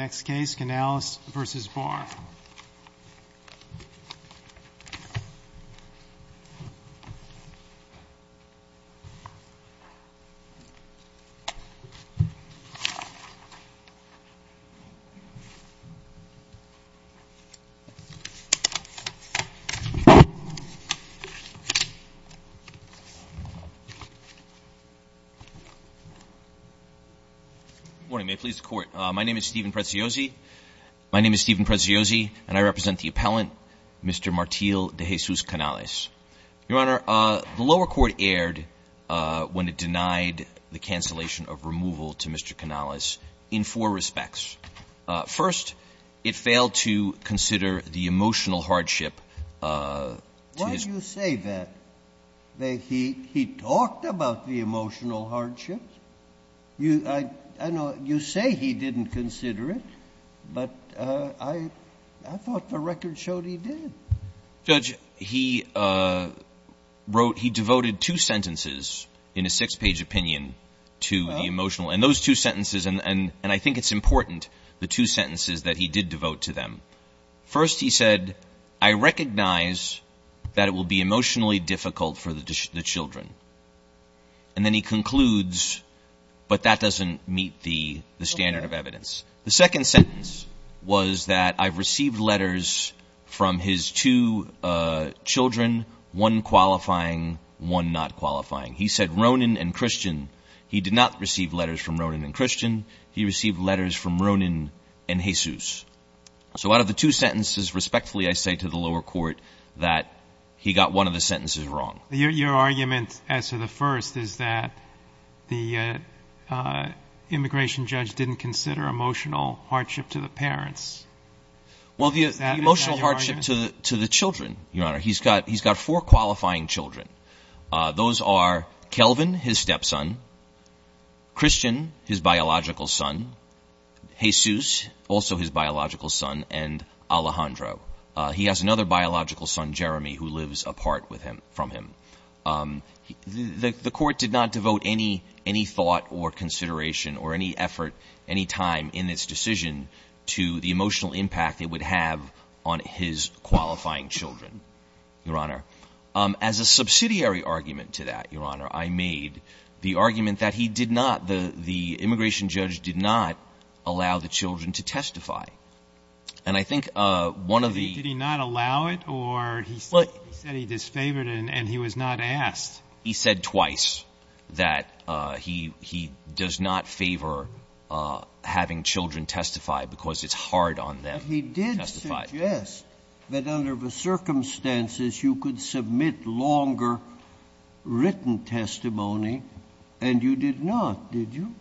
Good morning, may it please the Court. My name is Steven Preziosi, and I represent the appellant, Mr. Martil de Jesus Canales. Your Honor, the lower court erred when it denied the cancellation of removal to Mr. Canales in four respects. First, it failed to consider the emotional hardship. Why do you say that? He talked about the emotional hardship. You say he didn't consider it, but I thought the record showed he did. Judge, he wrote, he devoted two sentences in a six-page opinion to the emotional, and those two sentences, and I think it's important, the two sentences that he did devote to them. First, he said, I recognize that it will be emotionally difficult for the children. And then he concludes, but that doesn't meet the standard of evidence. The second sentence was that I've received letters from his two children, one qualifying, one not qualifying. He said Ronan and Christian. He did not receive letters from Ronan and Christian. He received letters from Ronan and Jesus. So out of the two sentences, respectfully, I say to the lower court that he got one of the sentences wrong. Your argument as to the first is that the immigration judge didn't consider emotional hardship to the parents. Well, the emotional hardship to the children, Your Honor, he's got four qualifying children. Those are Kelvin, his stepson, Christian, his biological son, Jesus, also his biological son, and Alejandro. He has another biological son, Jeremy, who lives apart from him. The court did not devote any thought or consideration or any effort, any time in its decision, to the emotional impact it would have on his qualifying children, Your Honor. As a subsidiary argument to that, Your Honor, I made the argument that he did not, the immigration judge did not allow the children to testify. And I think one of the — Did he not allow it, or he said he disfavored it and he was not asked? He said twice that he does not favor having children testify because it's hard on them to testify. He did suggest that under the circumstances you could submit longer written testimony, and you did not, did you?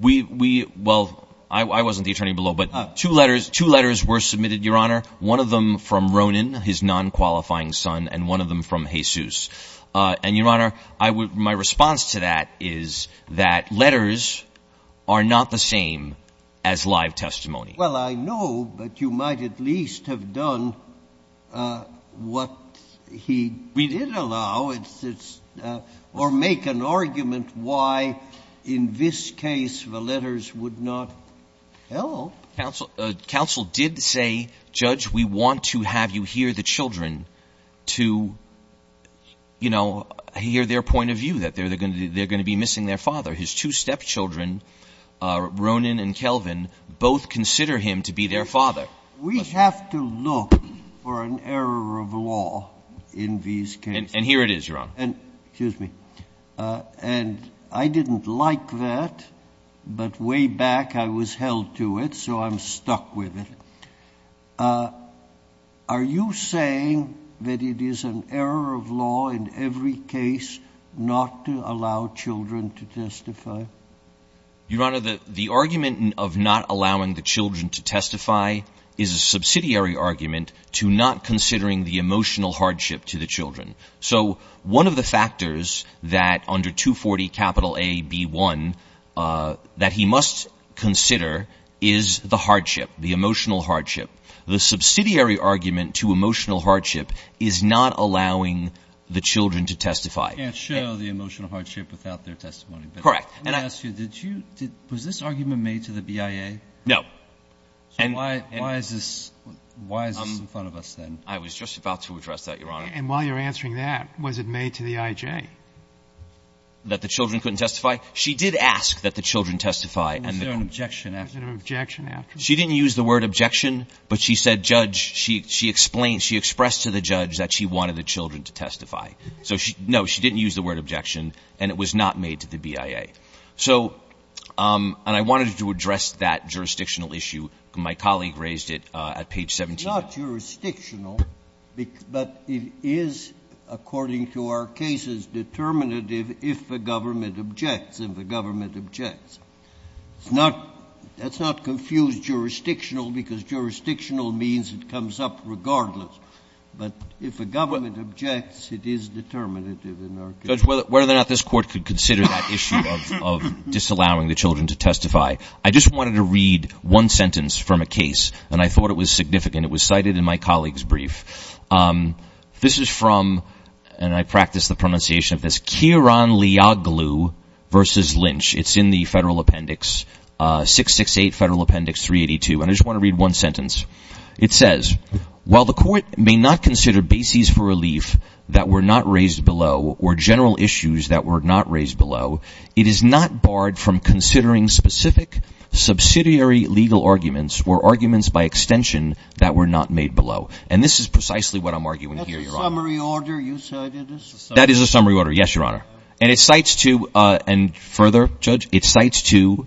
Well, I wasn't the attorney below, but two letters were submitted, Your Honor, one of them from Ronan, his non-qualifying son, and one of them from Jesus. And, Your Honor, my response to that is that letters are not the same as live testimony. Well, I know, but you might at least have done what he did allow, or make an argument why in this case the letters would not help. Counsel did say, Judge, we want to have you hear the children to, you know, hear their point of view, that they're going to be missing their father. His two stepchildren, Ronan and Kelvin, both consider him to be their father. We have to look for an error of law in these cases. And here it is, Your Honor. Excuse me. And I didn't like that, but way back I was held to it, so I'm stuck with it. Are you saying that it is an error of law in every case not to allow children to testify? Your Honor, the argument of not allowing the children to testify is a subsidiary argument to not considering the emotional hardship to the children. So one of the factors that under 240 A.B.1 that he must consider is the hardship, the emotional hardship. The subsidiary argument to emotional hardship is not allowing the children to testify. You can't show the emotional hardship without their testimony. Correct. Let me ask you, was this argument made to the BIA? No. So why is this in front of us then? I was just about to address that, Your Honor. And while you're answering that, was it made to the IJ? That the children couldn't testify? She did ask that the children testify. Was there an objection after? Was there an objection after? She didn't use the word objection, but she said judge. She explained, she expressed to the judge that she wanted the children to testify. So, no, she didn't use the word objection, and it was not made to the BIA. So, and I wanted to address that jurisdictional issue. My colleague raised it at page 17. It's not jurisdictional, but it is, according to our cases, determinative if the government objects, if the government objects. It's not, that's not confused jurisdictional because jurisdictional means it comes up regardless. But if the government objects, it is determinative in our case. Judge, whether or not this court could consider that issue of disallowing the children to testify. I just wanted to read one sentence from a case, and I thought it was significant. It was cited in my colleague's brief. This is from, and I practiced the pronunciation of this, Kieron Leoglu versus Lynch. It's in the federal appendix, 668 Federal Appendix 382. And I just want to read one sentence. It says, while the court may not consider bases for relief that were not raised below or general issues that were not raised below, it is not barred from considering specific subsidiary legal arguments or arguments by extension that were not made below. And this is precisely what I'm arguing here, Your Honor. That's a summary order you cited? That is a summary order, yes, Your Honor. And it cites to, and further, Judge, it cites to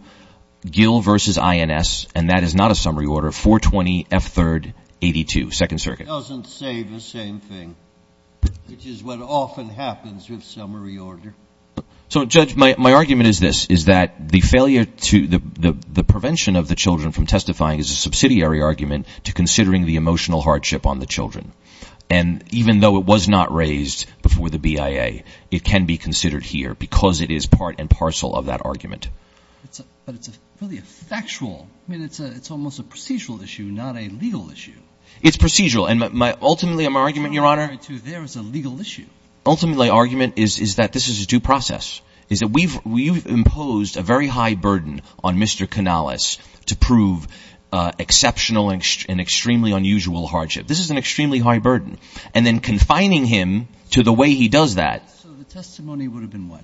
Gill versus INS, and that is not a summary order, 420F3-82, Second Circuit. It doesn't say the same thing, which is what often happens with summary order. So, Judge, my argument is this, is that the failure to, the prevention of the children from testifying is a subsidiary argument to considering the emotional hardship on the children. And even though it was not raised before the BIA, it can be considered here because it is part and parcel of that argument. But it's really factual. I mean, it's almost a procedural issue, not a legal issue. It's procedural. And ultimately, my argument, Your Honor, ultimately, Ultimately, my argument is that this is a due process, is that we've imposed a very high burden on Mr. Canales to prove exceptional and extremely unusual hardship. This is an extremely high burden. And then confining him to the way he does that. So the testimony would have been what?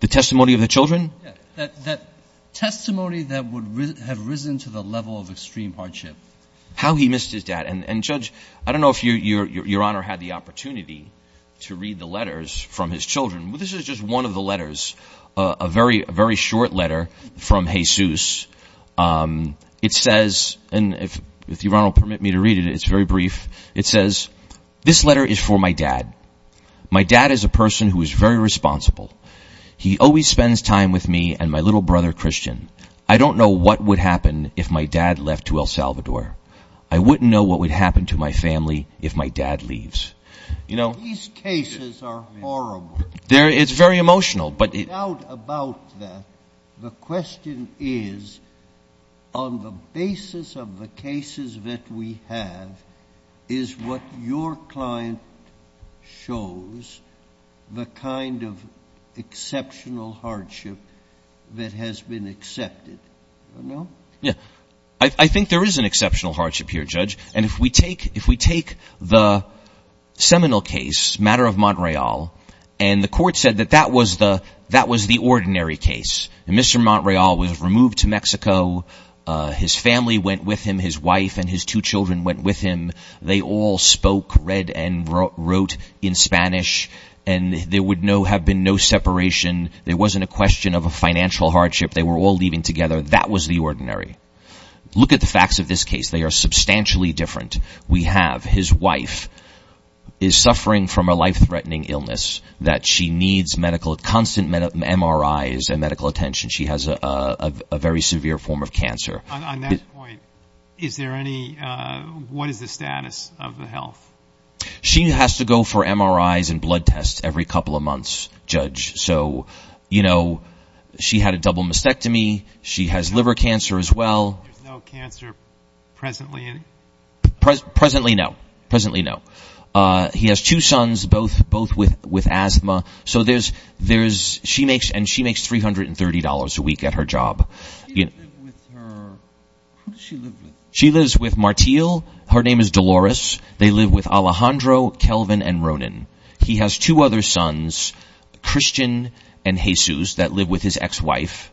The testimony of the children? That testimony that would have risen to the level of extreme hardship. How he missed his dad. And, Judge, I don't know if Your Honor had the opportunity to read the letters from his children. This is just one of the letters, a very short letter from Jesus. It says, and if Your Honor will permit me to read it, it's very brief. It says, This letter is for my dad. My dad is a person who is very responsible. He always spends time with me and my little brother Christian. I don't know what would happen if my dad left to El Salvador. I wouldn't know what would happen to my family if my dad leaves. These cases are horrible. It's very emotional. Without a doubt about that, the question is, on the basis of the cases that we have, is what your client shows the kind of exceptional hardship that has been accepted? I think there is an exceptional hardship here, Judge. And if we take the seminal case, Matter of Montreal, and the court said that that was the ordinary case. Mr. Montreal was removed to Mexico. His family went with him. His wife and his two children went with him. They all spoke, read, and wrote in Spanish. And there would have been no separation. There wasn't a question of a financial hardship. They were all leaving together. That was the ordinary. Look at the facts of this case. They are substantially different. We have his wife is suffering from a life-threatening illness that she needs constant MRIs and medical attention. She has a very severe form of cancer. On that point, what is the status of the health? She had a double mastectomy. She has liver cancer as well. There is no cancer presently? Presently, no. He has two sons, both with asthma. She makes $330 a week at her job. Who does she live with? She lives with Martiel. Her name is Dolores. They live with Alejandro, Kelvin, and Ronan. He has two other sons, Christian and Jesus, that live with his ex-wife.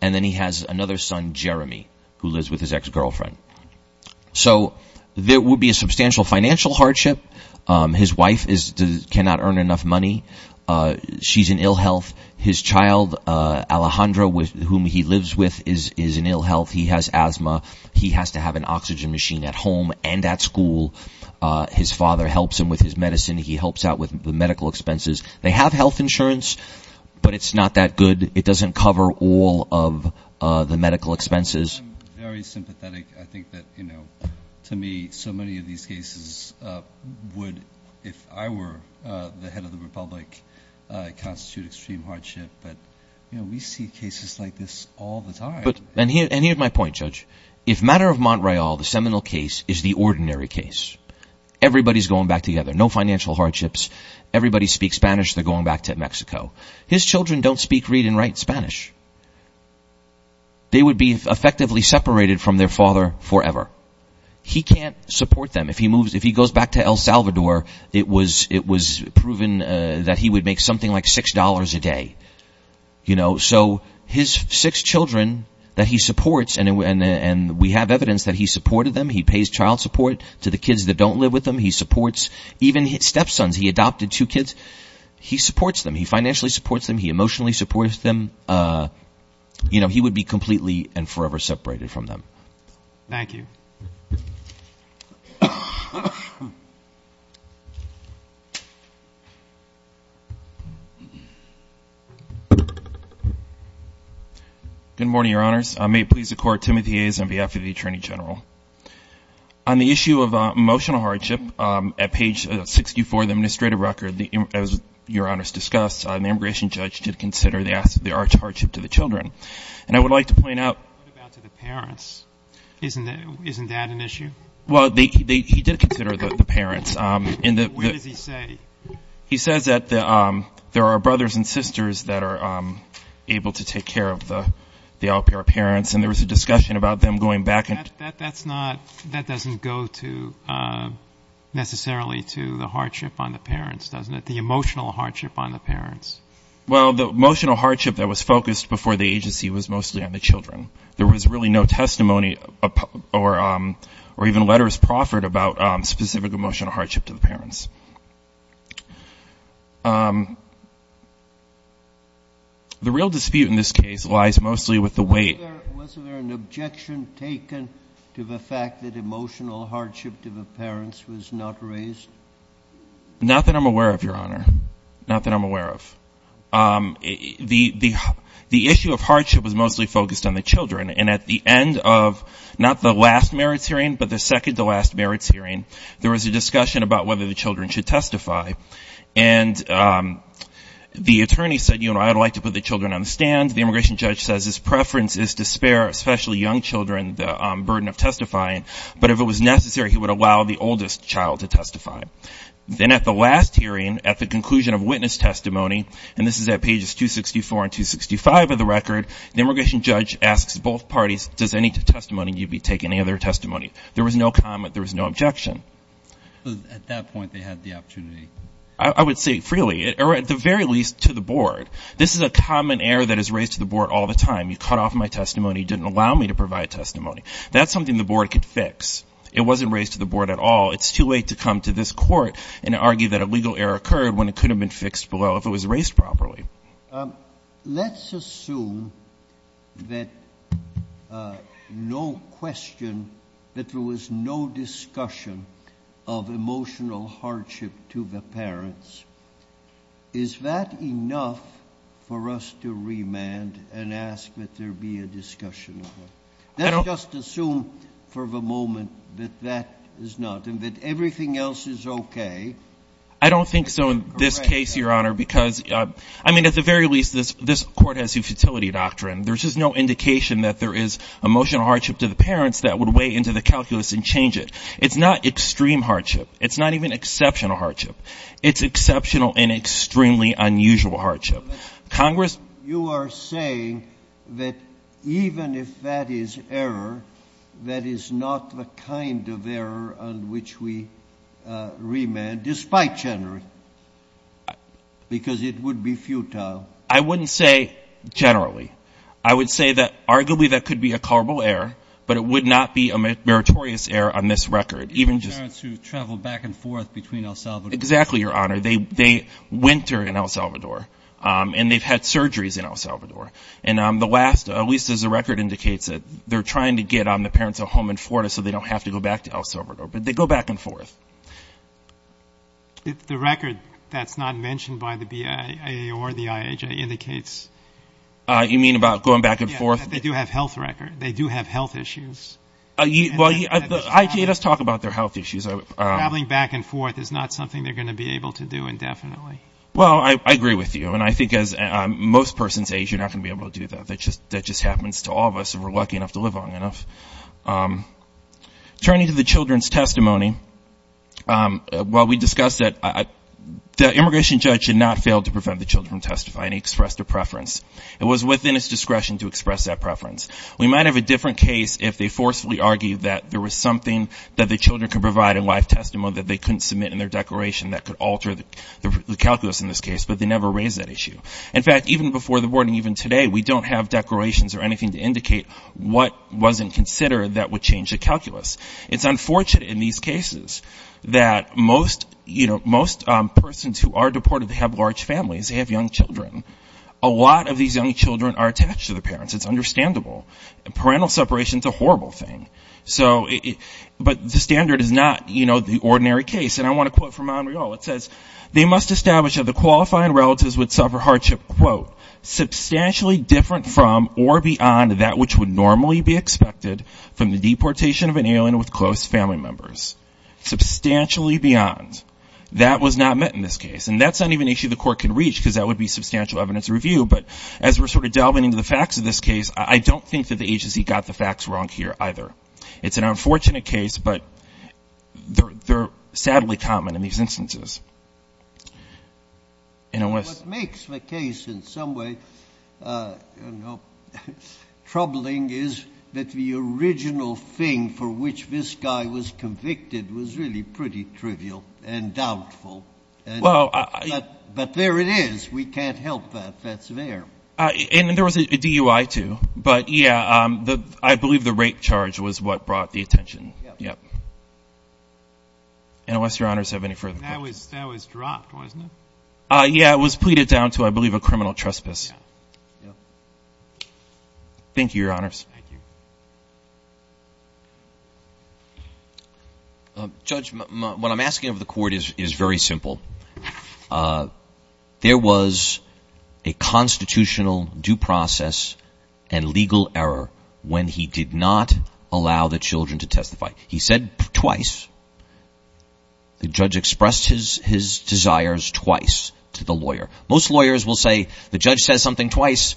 And then he has another son, Jeremy, who lives with his ex-girlfriend. So there would be a substantial financial hardship. His wife cannot earn enough money. She's in ill health. His child, Alejandro, with whom he lives with, is in ill health. He has asthma. He has to have an oxygen machine at home and at school. His father helps him with his medicine. He helps out with the medical expenses. They have health insurance, but it's not that good. It doesn't cover all of the medical expenses. I'm very sympathetic. I think that, you know, to me, so many of these cases would, if I were the head of the republic, constitute extreme hardship. But, you know, we see cases like this all the time. And here's my point, Judge. If Matter of Montreal, the seminal case, is the ordinary case, everybody's going back together. No financial hardships. Everybody speaks Spanish. They're going back to Mexico. His children don't speak, read, and write Spanish. They would be effectively separated from their father forever. He can't support them. If he goes back to El Salvador, it was proven that he would make something like $6 a day. So his six children that he supports, and we have evidence that he supported them. He pays child support to the kids that don't live with him. He supports even step-sons. He adopted two kids. He supports them. He financially supports them. He emotionally supports them. You know, he would be completely and forever separated from them. Thank you. Good morning, Your Honors. May it please the Court, Timothy Hayes on behalf of the Attorney General. On the issue of emotional hardship, at page 64 of the administrative record, as Your Honors discussed, the immigration judge did consider the arch hardship to the children. And I would like to point out. What about to the parents? Isn't that an issue? Well, he did consider the parents. What does he say? He says that there are brothers and sisters that are able to take care of the out-of-care parents, and there was a discussion about them going back. That doesn't go necessarily to the hardship on the parents, doesn't it? The emotional hardship on the parents. Well, the emotional hardship that was focused before the agency was mostly on the children. There was really no testimony or even letters proffered about specific emotional hardship to the parents. The real dispute in this case lies mostly with the weight. Was there an objection taken to the fact that emotional hardship to the parents was not raised? Not that I'm aware of, Your Honor. Not that I'm aware of. The issue of hardship was mostly focused on the children. And at the end of not the last merits hearing, but the second to last merits hearing, there was a discussion about whether the children should testify. And the attorney said, you know, I would like to put the children on the stand. The immigration judge says his preference is to spare, especially young children, the burden of testifying. But if it was necessary, he would allow the oldest child to testify. Then at the last hearing, at the conclusion of witness testimony, and this is at pages 264 and 265 of the record, the immigration judge asks both parties, does any testimony need to be taken, any other testimony? There was no comment. There was no objection. At that point they had the opportunity. I would say freely, or at the very least to the board. This is a common error that is raised to the board all the time. You cut off my testimony. You didn't allow me to provide testimony. That's something the board could fix. It wasn't raised to the board at all. It's too late to come to this court and argue that a legal error occurred when it could have been fixed below if it was raised properly. Let's assume that no question, that there was no discussion of emotional hardship to the parents. Is that enough for us to remand and ask that there be a discussion? Let's just assume for the moment that that is not, and that everything else is okay. I don't think so in this case, Your Honor, because, I mean, at the very least this court has a futility doctrine. There's just no indication that there is emotional hardship to the parents that would weigh into the calculus and change it. It's not extreme hardship. It's not even exceptional hardship. It's exceptional and extremely unusual hardship. You are saying that even if that is error, that is not the kind of error on which we remand, despite generally, because it would be futile? I wouldn't say generally. I would say that arguably that could be a culpable error, but it would not be a meritorious error on this record. Even just to travel back and forth between El Salvador. Exactly, Your Honor. They winter in El Salvador, and they've had surgeries in El Salvador. And the last, at least as the record indicates, they're trying to get the parents a home in Florida so they don't have to go back to El Salvador. But they go back and forth. The record that's not mentioned by the BIA or the IHA indicates. You mean about going back and forth? Yeah, that they do have health records. They do have health issues. Well, let's talk about their health issues. Traveling back and forth is not something they're going to be able to do indefinitely. Well, I agree with you. And I think as most persons age, you're not going to be able to do that. That just happens to all of us if we're lucky enough to live long enough. Turning to the children's testimony, well, we discussed that the immigration judge had not failed to prevent the children from testifying. He expressed a preference. It was within his discretion to express that preference. We might have a different case if they forcefully argued that there was something that the children could provide in life testimony that they couldn't submit in their declaration that could alter the calculus in this case. But they never raised that issue. In fact, even before the boarding, even today, we don't have declarations or anything to indicate what wasn't considered that would change the calculus. It's unfortunate in these cases that most, you know, most persons who are deported, they have large families. They have young children. A lot of these young children are attached to their parents. It's understandable. Parental separation is a horrible thing. So, but the standard is not, you know, the ordinary case. And I want to quote from Montreal. It says, they must establish that the qualifying relatives would suffer hardship, quote, substantially different from or beyond that which would normally be expected from the deportation of an alien with close family members. Substantially beyond. That was not met in this case. And that's not even an issue the court can reach because that would be substantial evidence review. But as we're sort of delving into the facts of this case, I don't think that the agency got the facts wrong here either. It's an unfortunate case, but they're sadly common in these instances. And it was. What makes the case in some way troubling is that the original thing for which this guy was convicted was really pretty trivial and doubtful. Well. But there it is. We can't help that. That's there. And there was a DUI, too. But, yeah, I believe the rape charge was what brought the attention. Yeah. Unless Your Honors have any further questions. That was dropped, wasn't it? Yeah, it was pleaded down to, I believe, a criminal trespass. Thank you, Your Honors. Thank you. Judge, what I'm asking of the court is very simple. There was a constitutional due process and legal error when he did not allow the children to testify. He said twice. The judge expressed his desires twice to the lawyer. Most lawyers will say the judge says something twice.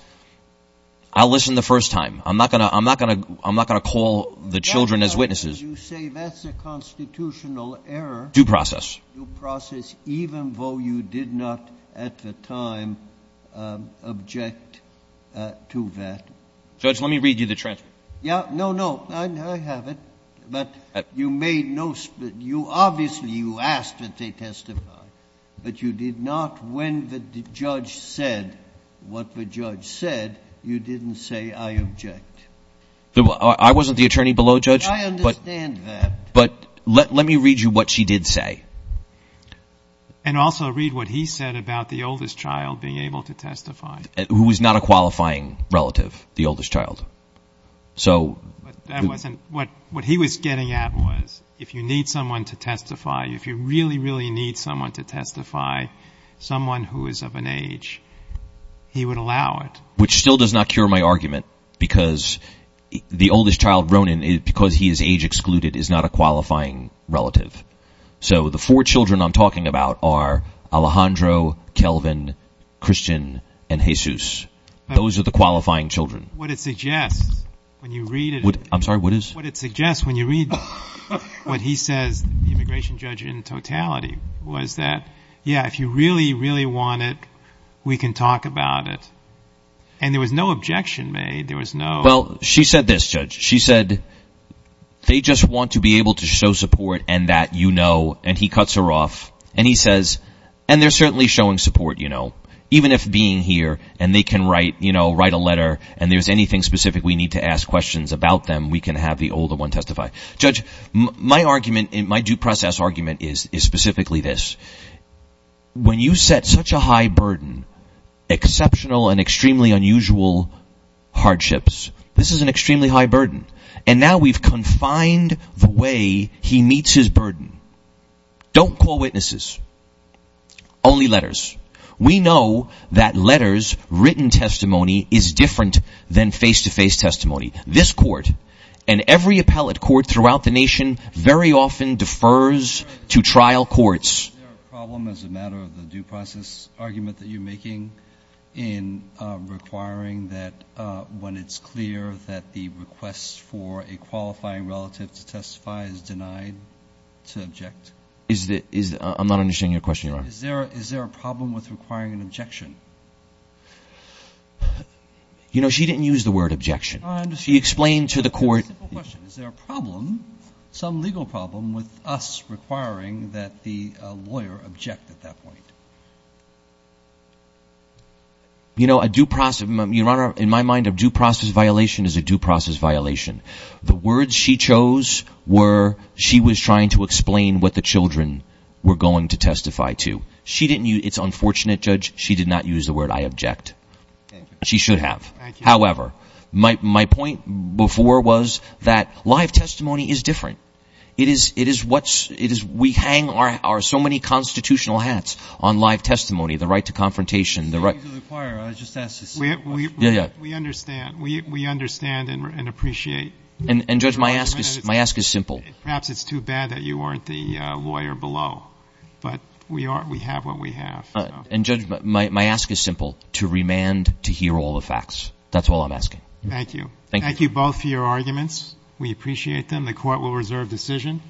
I'll listen the first time. I'm not going to call the children as witnesses. As you say, that's a constitutional error. Due process. Due process, even though you did not at the time object to that. Judge, let me read you the transcript. Yeah. No, no. I have it. But you made no split. Obviously, you asked that they testify. But you did not, when the judge said what the judge said, you didn't say, I object. I wasn't the attorney below, Judge. I understand that. But let me read you what she did say. And also read what he said about the oldest child being able to testify. Who was not a qualifying relative, the oldest child. What he was getting at was if you need someone to testify, if you really, really need someone to testify, someone who is of an age, he would allow it. Which still does not cure my argument because the oldest child, Ronan, because he is age excluded, is not a qualifying relative. So the four children I'm talking about are Alejandro, Kelvin, Christian, and Jesus. Those are the qualifying children. What it suggests when you read what he says, the immigration judge in totality, was that, yeah, if you really, really want it, we can talk about it. And there was no objection made. Well, she said this, Judge. She said, they just want to be able to show support and that you know. And he cuts her off. And he says, and they're certainly showing support, you know, even if being here and they can write, you know, write a letter and there's anything specific we need to ask questions about them, we can have the older one testify. Judge, my argument, my due process argument is specifically this. When you set such a high burden, exceptional and extremely unusual hardships, this is an extremely high burden. And now we've confined the way he meets his burden. Don't call witnesses. Only letters. We know that letters, written testimony, is different than face-to-face testimony. This court and every appellate court throughout the nation very often defers to trial courts. Is there a problem as a matter of the due process argument that you're making in requiring that when it's clear that the request for a qualifying relative to testify is denied to object? Is there a problem with requiring an objection? You know, she didn't use the word objection. She explained to the court. Is there a problem, some legal problem, with us requiring that the lawyer object at that point? You know, a due process, Your Honor, in my mind, a due process violation is a due process violation. The words she chose were she was trying to explain what the children were going to testify to. It's unfortunate, Judge. She did not use the word I object. She should have. However, my point before was that live testimony is different. It is what's we hang our so many constitutional hats on live testimony, the right to confrontation. We understand. We understand and appreciate. And, Judge, my ask is simple. Perhaps it's too bad that you aren't the lawyer below, but we have what we have. And, Judge, my ask is simple, to remand to hear all the facts. That's all I'm asking. Thank you. Thank you both for your arguments. We appreciate them. The court will reserve decision.